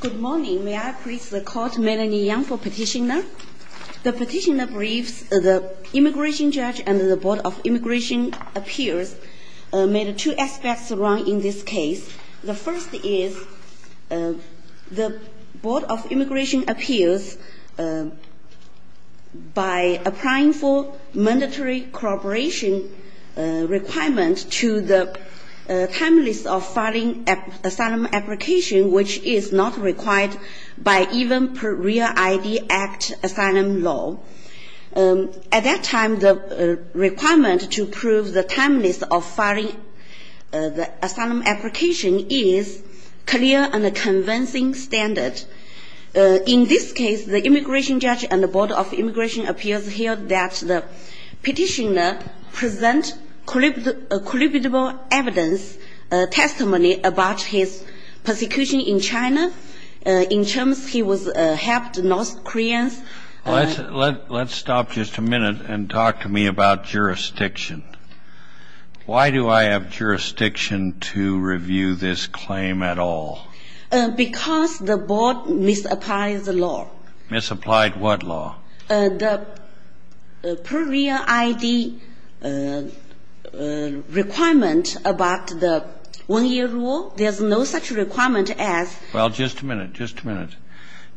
Good morning. May I please call Melanie Yang for petitioner. The petitioner believes the immigration judge and the Board of Immigration Appeals made two aspects wrong in this case. The first is the Board of Immigration Appeals by applying for mandatory cooperation requirement to the Timeless of Filing Asylum Application, which is not required by even per REAL ID Act asylum law. At that time, the requirement to prove the Timeless of Filing Asylum Application is clear and a convincing standard. In this case, the immigration judge and the Board of Immigration Appeals feel that the petitioner presents credible evidence, testimony about his persecution in China in terms he helped North Koreans. Let's stop just a minute and talk to me about jurisdiction. Why do I have jurisdiction to review this claim at all? Because the board misapplied the law. Misapplied what law? The per REAL ID requirement about the one-year rule. There's no such requirement as Well, just a minute, just a minute.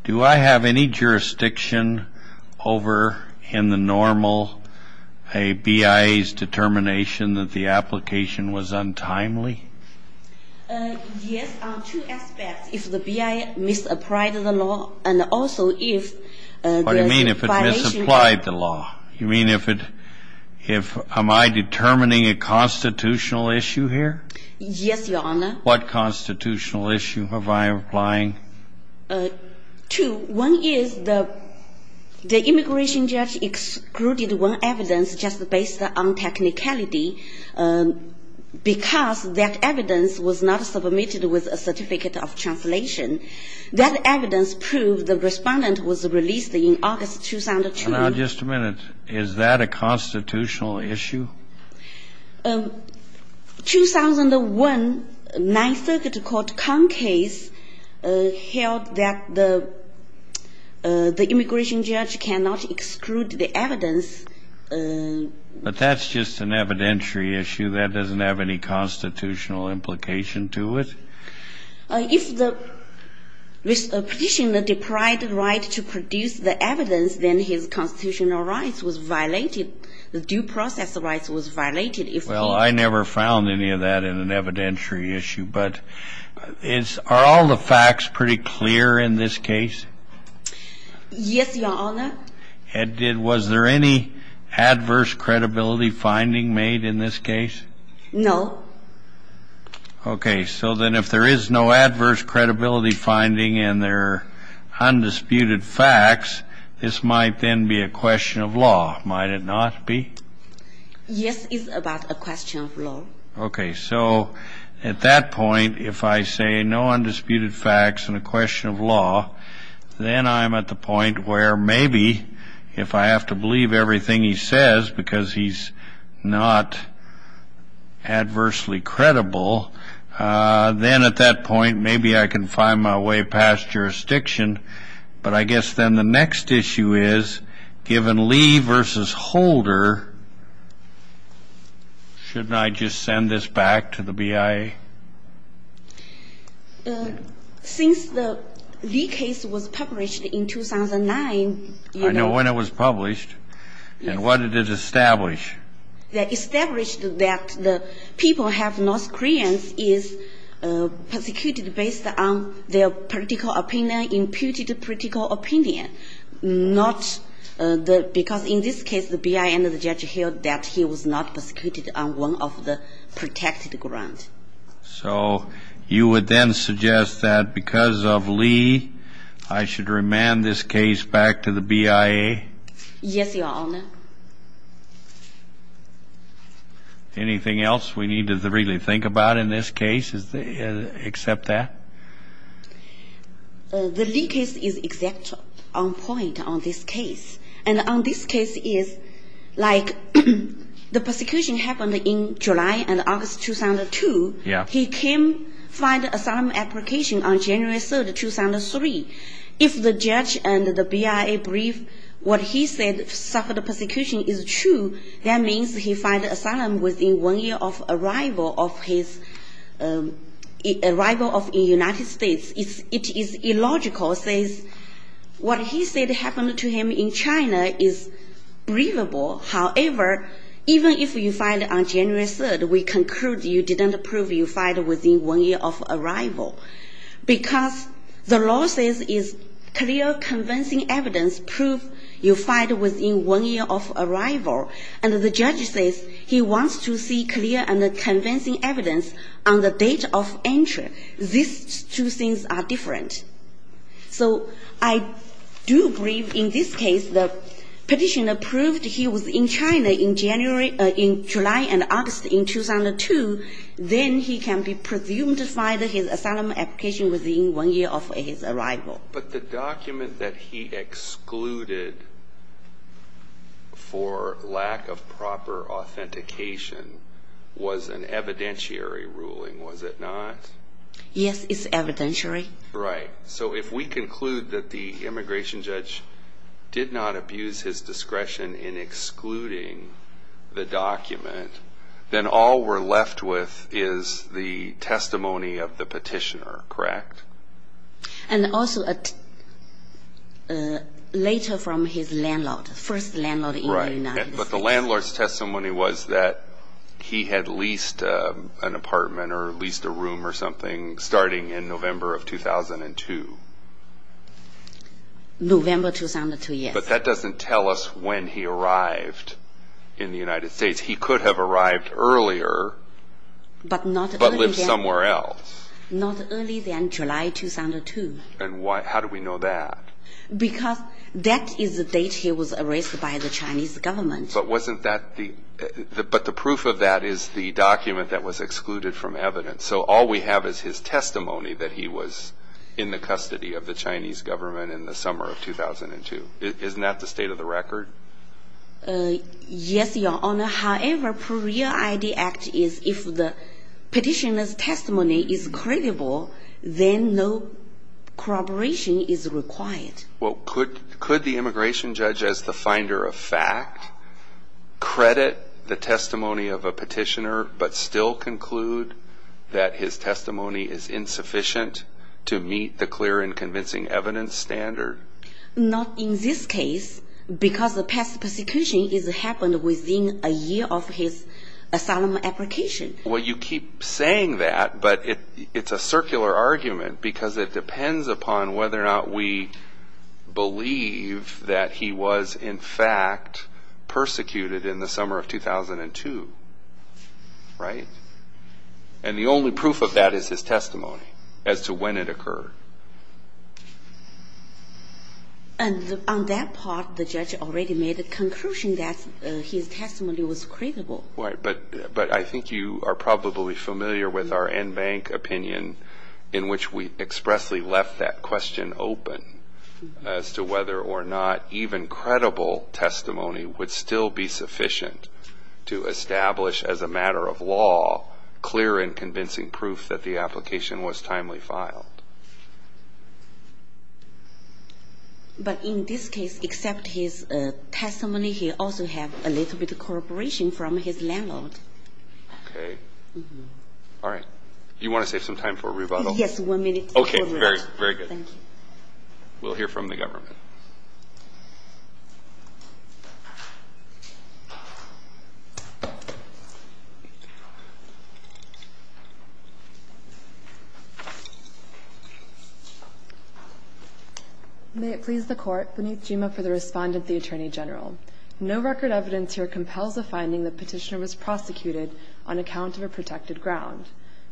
Do I have any jurisdiction over in the normal a BIA's determination that the application was untimely? Yes, two aspects. If the BIA misapplied the law and also if What do you mean if it misapplied the law? You mean if it If am I determining a constitutional issue here? Yes, Your Honor. What constitutional issue am I applying? Two. One is the immigration judge excluded one evidence just based on technicality because that evidence was not submitted with a certificate of translation. That evidence proved the respondent was released in August 2002. Now, just a minute. Is that a constitutional issue? 2001 Ninth Circuit Court Con case held that the immigration judge cannot exclude the evidence. But that's just an evidentiary issue. That doesn't have any constitutional implication to it. If the petitioner deprived the right to produce the evidence, then his constitutional rights was violated. The due process rights was violated. Well, I never found any of that in an evidentiary issue. But are all the facts pretty clear in this case? Yes, Your Honor. And was there any adverse credibility finding made in this case? No. Okay. So then if there is no adverse credibility finding in their undisputed facts, this might then be a question of law. Might it not be? Yes, it's about a question of law. Okay. So at that point, if I say no undisputed facts and a question of law, then I'm at the point where maybe if I have to believe everything he says because he's not adversely credible, then at that point, maybe I can find my way past jurisdiction. But I guess then the next issue is, given Lee versus Holder, shouldn't I just send this back to the BIA? Since the Lee case was published in 2009, you know — I know when it was published. Yes. And what did it establish? It established that the people have North Koreans is persecuted based on their political opinion, imputed political opinion, not the — because in this case, the BIA and the judge held that he was not persecuted on one of the protected grounds. So you would then suggest that because of Lee, I should remand this case back to the BIA? Yes, Your Honor. Anything else we need to really think about in this case except that? The Lee case is exactly on point on this case. And on this case is, like, the persecution happened in July and August 2002. Yeah. He came — filed an asylum application on January 3rd, 2003. If the judge and the BIA believe what he said, suffered persecution, is true, that means he filed asylum within one year of arrival of his — arrival of the United States. It is illogical, says — what he said happened to him in China is believable. However, even if you filed on January 3rd, we conclude you didn't prove you filed within one year of arrival because the law says is clear, convincing evidence prove you filed within one year of arrival. And the judge says he wants to see clear and convincing evidence on the date of entry. These two things are different. So I do believe in this case the petitioner proved he was in China in January — in July and August in 2002. Then he can be presumed to file his asylum application within one year of his arrival. But the document that he excluded for lack of proper authentication was an evidentiary ruling, was it not? Yes, it's evidentiary. Right. So if we conclude that the immigration judge did not abuse his discretion in excluding the document, then all we're left with is the testimony of the petitioner, correct? And also later from his landlord, first landlord in the United States. But the landlord's testimony was that he had leased an apartment or leased a room or something starting in November of 2002. November 2002, yes. But that doesn't tell us when he arrived in the United States. He could have arrived earlier but lived somewhere else. Not earlier than July 2002. And how do we know that? Because that is the date he was arrested by the Chinese government. But wasn't that the — but the proof of that is the document that was excluded from evidence. So all we have is his testimony that he was in the custody of the Chinese government in the summer of 2002. Isn't that the state of the record? Yes, Your Honor. However, per REAL ID Act, if the petitioner's testimony is credible, then no corroboration is required. Well, could the immigration judge as the finder of fact credit the testimony of a petitioner but still conclude that his testimony is insufficient to meet the clear and convincing evidence standard? Not in this case because the past persecution happened within a year of his asylum application. Well, you keep saying that, but it's a circular argument because it depends upon whether or not we believe that he was, in fact, persecuted in the summer of 2002. Right? And the only proof of that is his testimony as to when it occurred. And on that part, the judge already made a conclusion that his testimony was credible. Right. But I think you are probably familiar with our en banc opinion in which we expressly left that question open as to whether or not even credible testimony would still be sufficient to establish as a matter of law clear and convincing proof that the application was timely filed. But in this case, except his testimony, he also had a little bit of corroboration from his landlord. Okay. All right. Do you want to save some time for rebuttal? Yes, one minute. Okay. Very, very good. Thank you. We'll hear from the government. May it please the Court. Vineeth Jima for the Respondent, the Attorney General. No record evidence here compels the finding that Petitioner was prosecuted on account of a protected ground.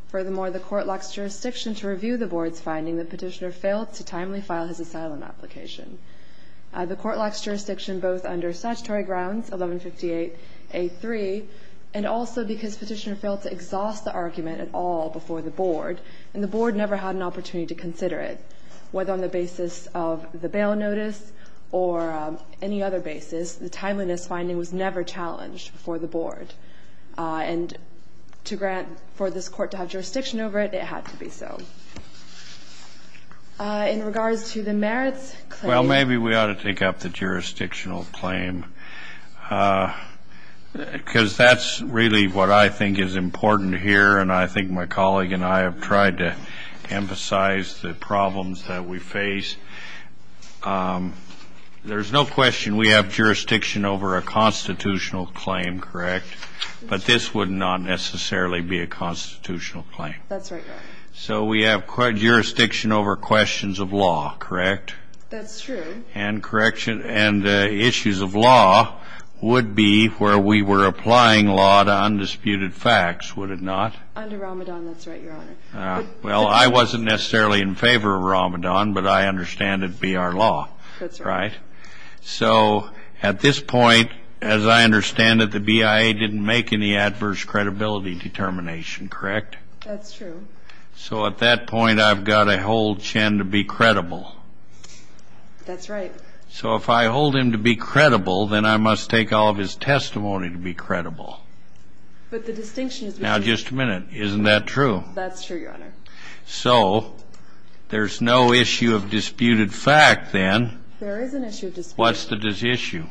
Furthermore, the Court locks jurisdiction to review the Board's finding that Petitioner failed to timely file his asylum application. The Court locks jurisdiction both under statutory grounds, 1158A3, and also because Petitioner failed to exhaust the argument at all before the Board, and the Board never had an opportunity to consider it, whether on the basis of the bail notice or any other basis. The timeliness finding was never challenged before the Board. And to grant for this Court to have jurisdiction over it, it had to be so. In regards to the merits claim. Well, maybe we ought to take up the jurisdictional claim, because that's really what I think is important here, and I think my colleague and I have tried to emphasize the problems that we face. There's no question we have jurisdiction over a constitutional claim, correct? But this would not necessarily be a constitutional claim. That's right, Your Honor. So we have jurisdiction over questions of law, correct? That's true. And issues of law would be where we were applying law to undisputed facts, would it not? Under Ramadan, that's right, Your Honor. Well, I wasn't necessarily in favor of Ramadan, but I understand it be our law, right? That's right. So at this point, as I understand it, the BIA didn't make any adverse credibility determination, correct? That's true. So at that point, I've got to hold Chen to be credible. That's right. So if I hold him to be credible, then I must take all of his testimony to be credible. But the distinction is between. Now, just a minute. Isn't that true? That's true, Your Honor. So there's no issue of disputed fact, then. There is an issue of disputed fact. What's the issue?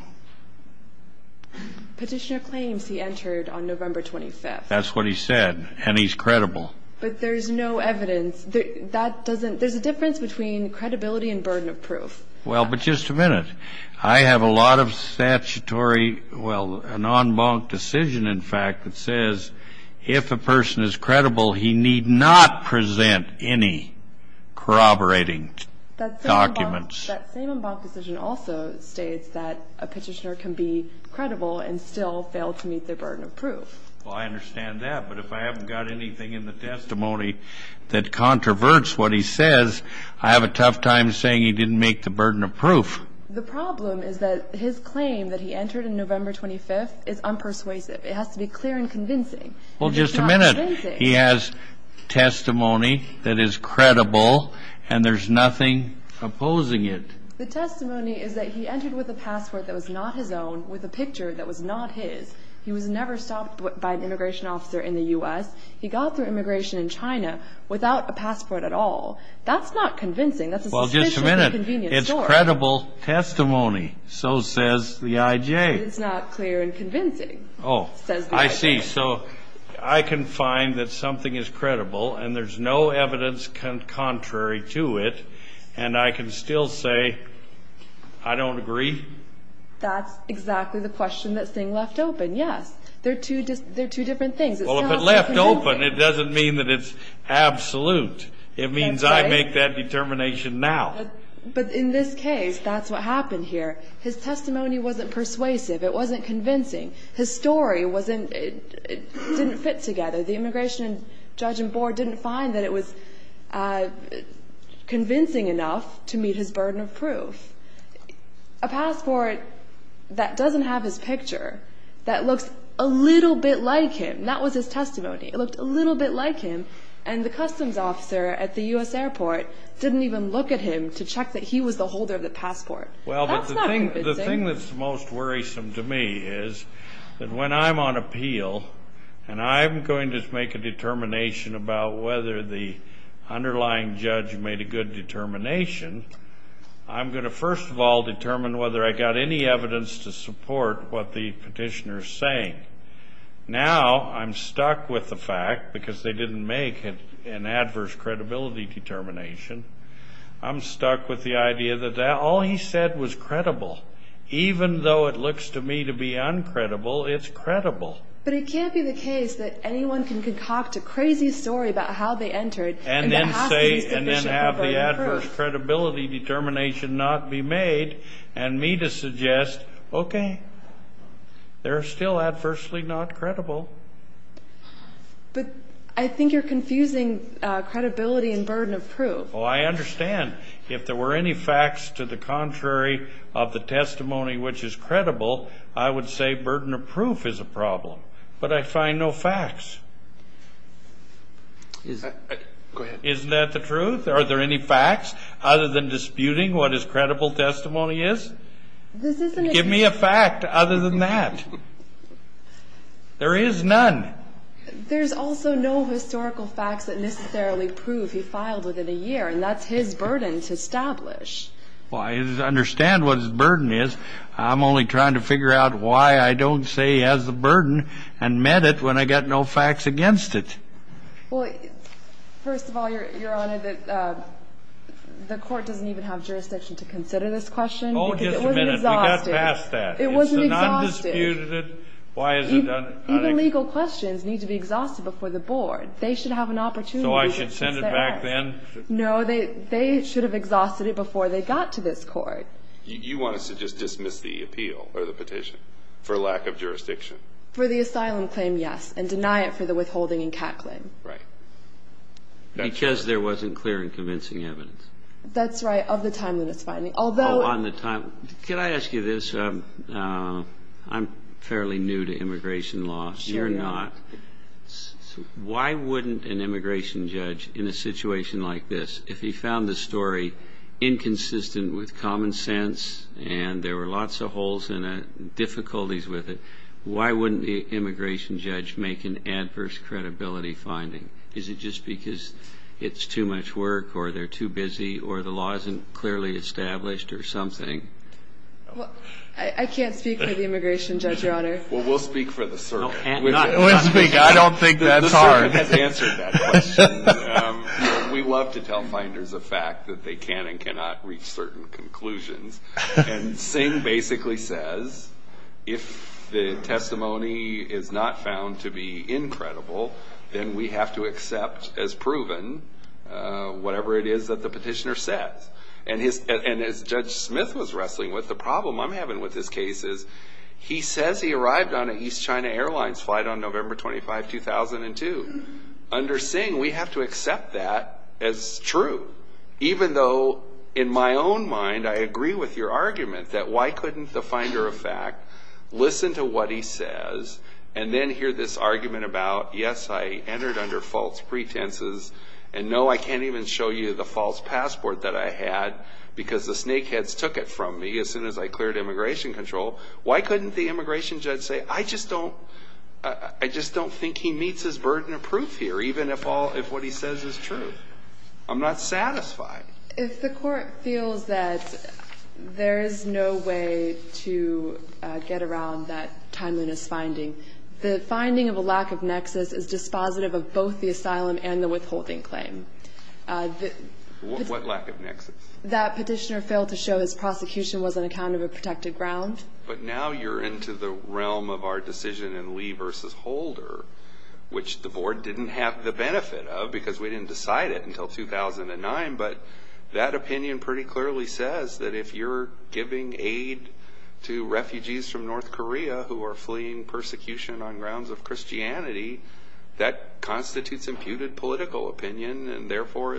Petitioner claims he entered on November 25th. That's what he said. And he's credible. But there's no evidence. There's a difference between credibility and burden of proof. Well, but just a minute. I have a lot of statutory, well, an en banc decision, in fact, that says if a person is credible, he need not present any corroborating documents. That same en banc decision also states that a petitioner can be credible and still fail to meet their burden of proof. Well, I understand that. But if I haven't got anything in the testimony that controverts what he says, I have a tough time saying he didn't meet the burden of proof. The problem is that his claim that he entered on November 25th is unpersuasive. Well, just a minute. He has testimony that is credible, and there's nothing opposing it. The testimony is that he entered with a passport that was not his own, with a picture that was not his. He was never stopped by an immigration officer in the U.S. He got through immigration in China without a passport at all. That's not convincing. That's a suspiciously convenient story. Well, just a minute. It's credible testimony. So says the IJ. It's not clear and convincing, says the IJ. Oh, I see. So I can find that something is credible, and there's no evidence contrary to it, and I can still say I don't agree? That's exactly the question that's being left open, yes. They're two different things. Well, if it's left open, it doesn't mean that it's absolute. It means I make that determination now. But in this case, that's what happened here. His testimony wasn't persuasive. It wasn't convincing. His story didn't fit together. The immigration judge and board didn't find that it was convincing enough to meet his burden of proof. A passport that doesn't have his picture, that looks a little bit like him. That was his testimony. It looked a little bit like him, and the customs officer at the U.S. airport didn't even look at him to check that he was the holder of the passport. That's not convincing. The thing that's most worrisome to me is that when I'm on appeal and I'm going to make a determination about whether the underlying judge made a good determination, I'm going to first of all determine whether I got any evidence to support what the petitioner is saying. Now I'm stuck with the fact, because they didn't make an adverse credibility determination, I'm stuck with the idea that all he said was credible. Even though it looks to me to be uncredible, it's credible. But it can't be the case that anyone can concoct a crazy story about how they entered and then have the adverse credibility determination not be made, and me to suggest, okay, they're still adversely not credible. But I think you're confusing credibility and burden of proof. Oh, I understand. If there were any facts to the contrary of the testimony which is credible, I would say burden of proof is a problem. But I find no facts. Go ahead. Isn't that the truth? Are there any facts other than disputing what his credible testimony is? This isn't a dispute. Give me a fact other than that. There is none. There's also no historical facts that necessarily prove he filed within a year, and that's his burden to establish. Well, I understand what his burden is. I'm only trying to figure out why I don't say he has the burden and met it when I got no facts against it. Well, first of all, Your Honor, the court doesn't even have jurisdiction to consider this question. Oh, just a minute. We got past that. It wasn't exhaustive. It wasn't undisputed. Even legal questions need to be exhausted before the board. They should have an opportunity to consider this. So I should send it back then? No, they should have exhausted it before they got to this court. You want us to just dismiss the appeal or the petition for lack of jurisdiction? For the asylum claim, yes, and deny it for the withholding and CAT claim. Right. Because there wasn't clear and convincing evidence. That's right, of the timeliness finding. Could I ask you this? I'm fairly new to immigration law. You're not. Why wouldn't an immigration judge in a situation like this, if he found the story inconsistent with common sense and there were lots of holes in it, difficulties with it, why wouldn't the immigration judge make an adverse credibility finding? Is it just because it's too much work or they're too busy or the law isn't clearly established or something? I can't speak for the immigration judge, Your Honor. Well, we'll speak for the circuit. I don't think the circuit has answered that question. We love to tell finders of fact that they can and cannot reach certain conclusions. And Singh basically says if the testimony is not found to be incredible, then we have to accept as proven whatever it is that the petitioner says. And as Judge Smith was wrestling with, the problem I'm having with this case is he says he arrived on an East China Airlines flight on November 25, 2002. Under Singh, we have to accept that as true, even though in my own mind I agree with your argument that why couldn't the finder of fact listen to what he says and then hear this argument about, yes, I entered under false pretenses, and no, I can't even show you the false passport that I had because the snakeheads took it from me as soon as I cleared immigration control. Why couldn't the immigration judge say, I just don't think he meets his burden of proof here, even if what he says is true? I'm not satisfied. If the Court feels that there is no way to get around that timeliness finding, the finding of a lack of nexus is dispositive of both the asylum and the withholding claim. What lack of nexus? That petitioner failed to show his prosecution was on account of a protected ground. But now you're into the realm of our decision in Lee v. Holder, which the Board didn't have the benefit of because we didn't decide it until 2009, but that opinion pretty clearly says that if you're giving aid to refugees from North Korea who are fleeing persecution on grounds of Christianity, that constitutes imputed political opinion and therefore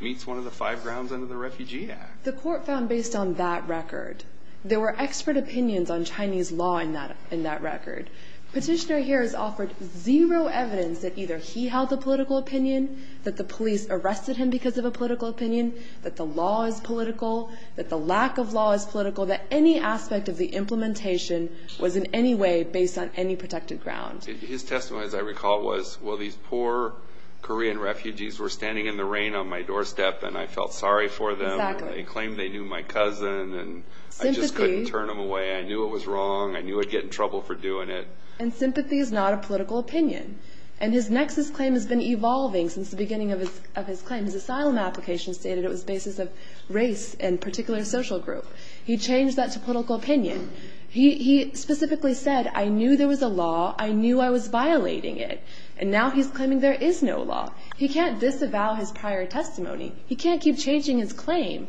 meets one of the five grounds under the Refugee Act. The Court found based on that record, there were expert opinions on Chinese law in that record. Petitioner here has offered zero evidence that either he held the political opinion, that the police arrested him because of a political opinion, that the law is political, that the lack of law is political, that any aspect of the implementation was in any way based on any protected ground. His testimony, as I recall, was, well, these poor Korean refugees were standing in the rain on my doorstep, and I felt sorry for them. Exactly. They claimed they knew my cousin, and I just couldn't turn them away. Sympathy. I knew it was wrong. I knew I'd get in trouble for doing it. And sympathy is not a political opinion. And his nexus claim has been evolving since the beginning of his claim. His asylum application stated it was the basis of race and particular social group. He changed that to political opinion. He specifically said, I knew there was a law. I knew I was violating it. And now he's claiming there is no law. He can't disavow his prior testimony. He can't keep changing his claim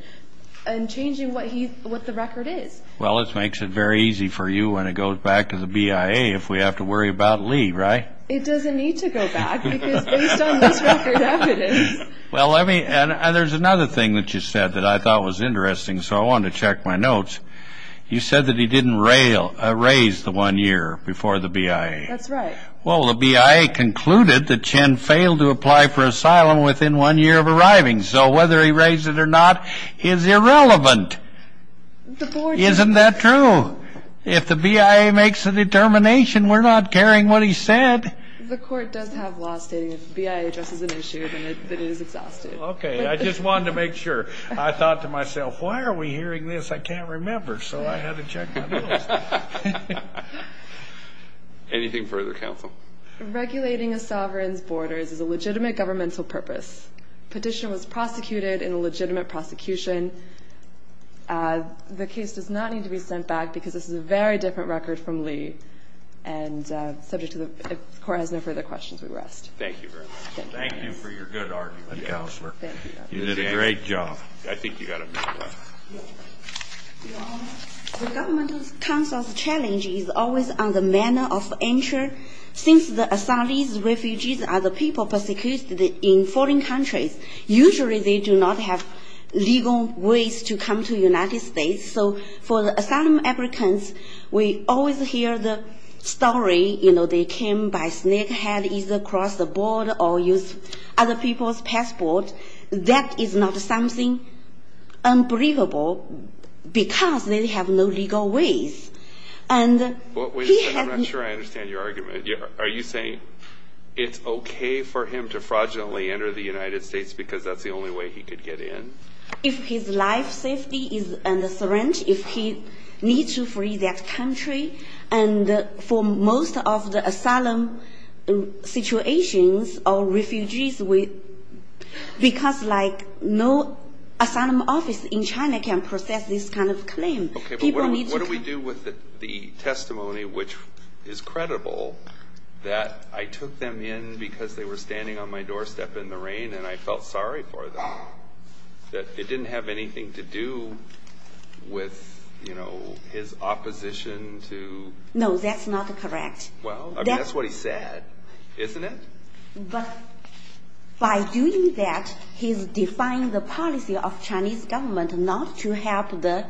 and changing what the record is. Well, it makes it very easy for you when it goes back to the BIA if we have to worry about Lee, right? It doesn't need to go back because based on this record evidence. Well, there's another thing that you said that I thought was interesting, so I wanted to check my notes. You said that he didn't raise the one year before the BIA. That's right. Well, the BIA concluded that Chen failed to apply for asylum within one year of arriving. So whether he raised it or not is irrelevant. Isn't that true? If the BIA makes a determination, we're not caring what he said. The court does have law stating if the BIA addresses an issue, then it is exhausted. Okay. I just wanted to make sure. I thought to myself, why are we hearing this? I can't remember. So I had to check my notes. Anything further, counsel? Regulating a sovereign's borders is a legitimate governmental purpose. Petition was prosecuted in a legitimate prosecution. The case does not need to be sent back because this is a very different record from Lee. And subject to the court has no further questions, we rest. Thank you very much. Thank you for your good argument, counselor. Thank you. You did a great job. I think you've got a minute left. Your Honor, the governmental counsel's challenge is always on the manner of entry. Since the asylees refugees are the people persecuted in foreign countries, usually they do not have legal ways to come to the United States. So for asylum applicants, we always hear the story, you know, they came by snakehead, either cross the border or use other people's passport. That is not something unbelievable because they have no legal ways. I'm not sure I understand your argument. Are you saying it's okay for him to fraudulently enter the United States because that's the only way he could get in? If his life safety is under threat, if he needs to free that country, and for most of the asylum situations or refugees, because, like, no asylum office in China can process this kind of claim. Okay, but what do we do with the testimony, which is credible, that I took them in because they were standing on my doorstep in the rain and I felt sorry for them, that it didn't have anything to do with, you know, his opposition to? No, that's not correct. Well, I mean, that's what he said, isn't it? But by doing that, he's defying the policy of Chinese government not to help the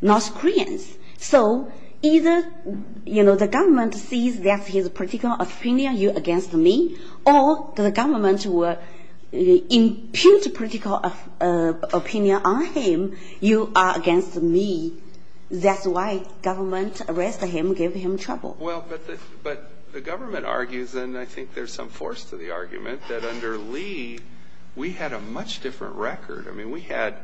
North Koreans. So either, you know, the government sees that he has a particular opinion, you're against me, or the government will impute a particular opinion on him, you are against me. That's why government arrested him, gave him trouble. Well, but the government argues, and I think there's some force to the argument, that under Lee, we had a much different record. I mean, we had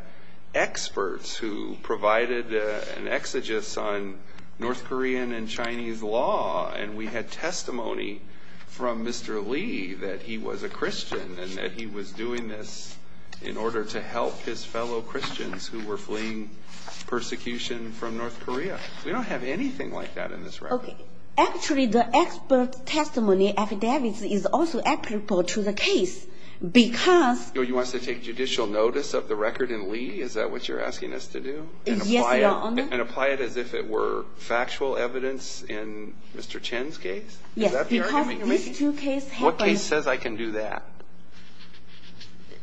experts who provided an exegesis on North Korean and Chinese law, and we had testimony from Mr. Lee that he was a Christian and that he was doing this in order to help his fellow Christians who were fleeing persecution from North Korea. We don't have anything like that in this record. Actually, the expert testimony is also applicable to the case because You want us to take judicial notice of the record in Lee? Is that what you're asking us to do? Yes, Your Honor. And apply it as if it were factual evidence in Mr. Chen's case? Yes, because these two cases happened. What case says I can do that?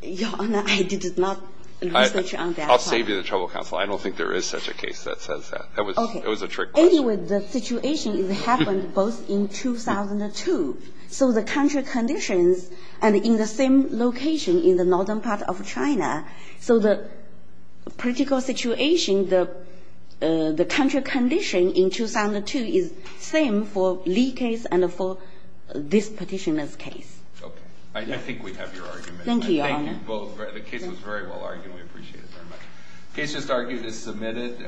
Your Honor, I did not research on that. I'll save you the trouble, counsel. I don't think there is such a case that says that. That was a trick question. Anyway, the situation happened both in 2002. So the country conditions and in the same location in the northern part of China, so the political situation, the country condition in 2002 is same for Lee case and for this petitioner's case. Okay. I think we have your argument. Thank you, Your Honor. Thank you both. The case was very well argued. We appreciate it very much. The case just argued is submitted.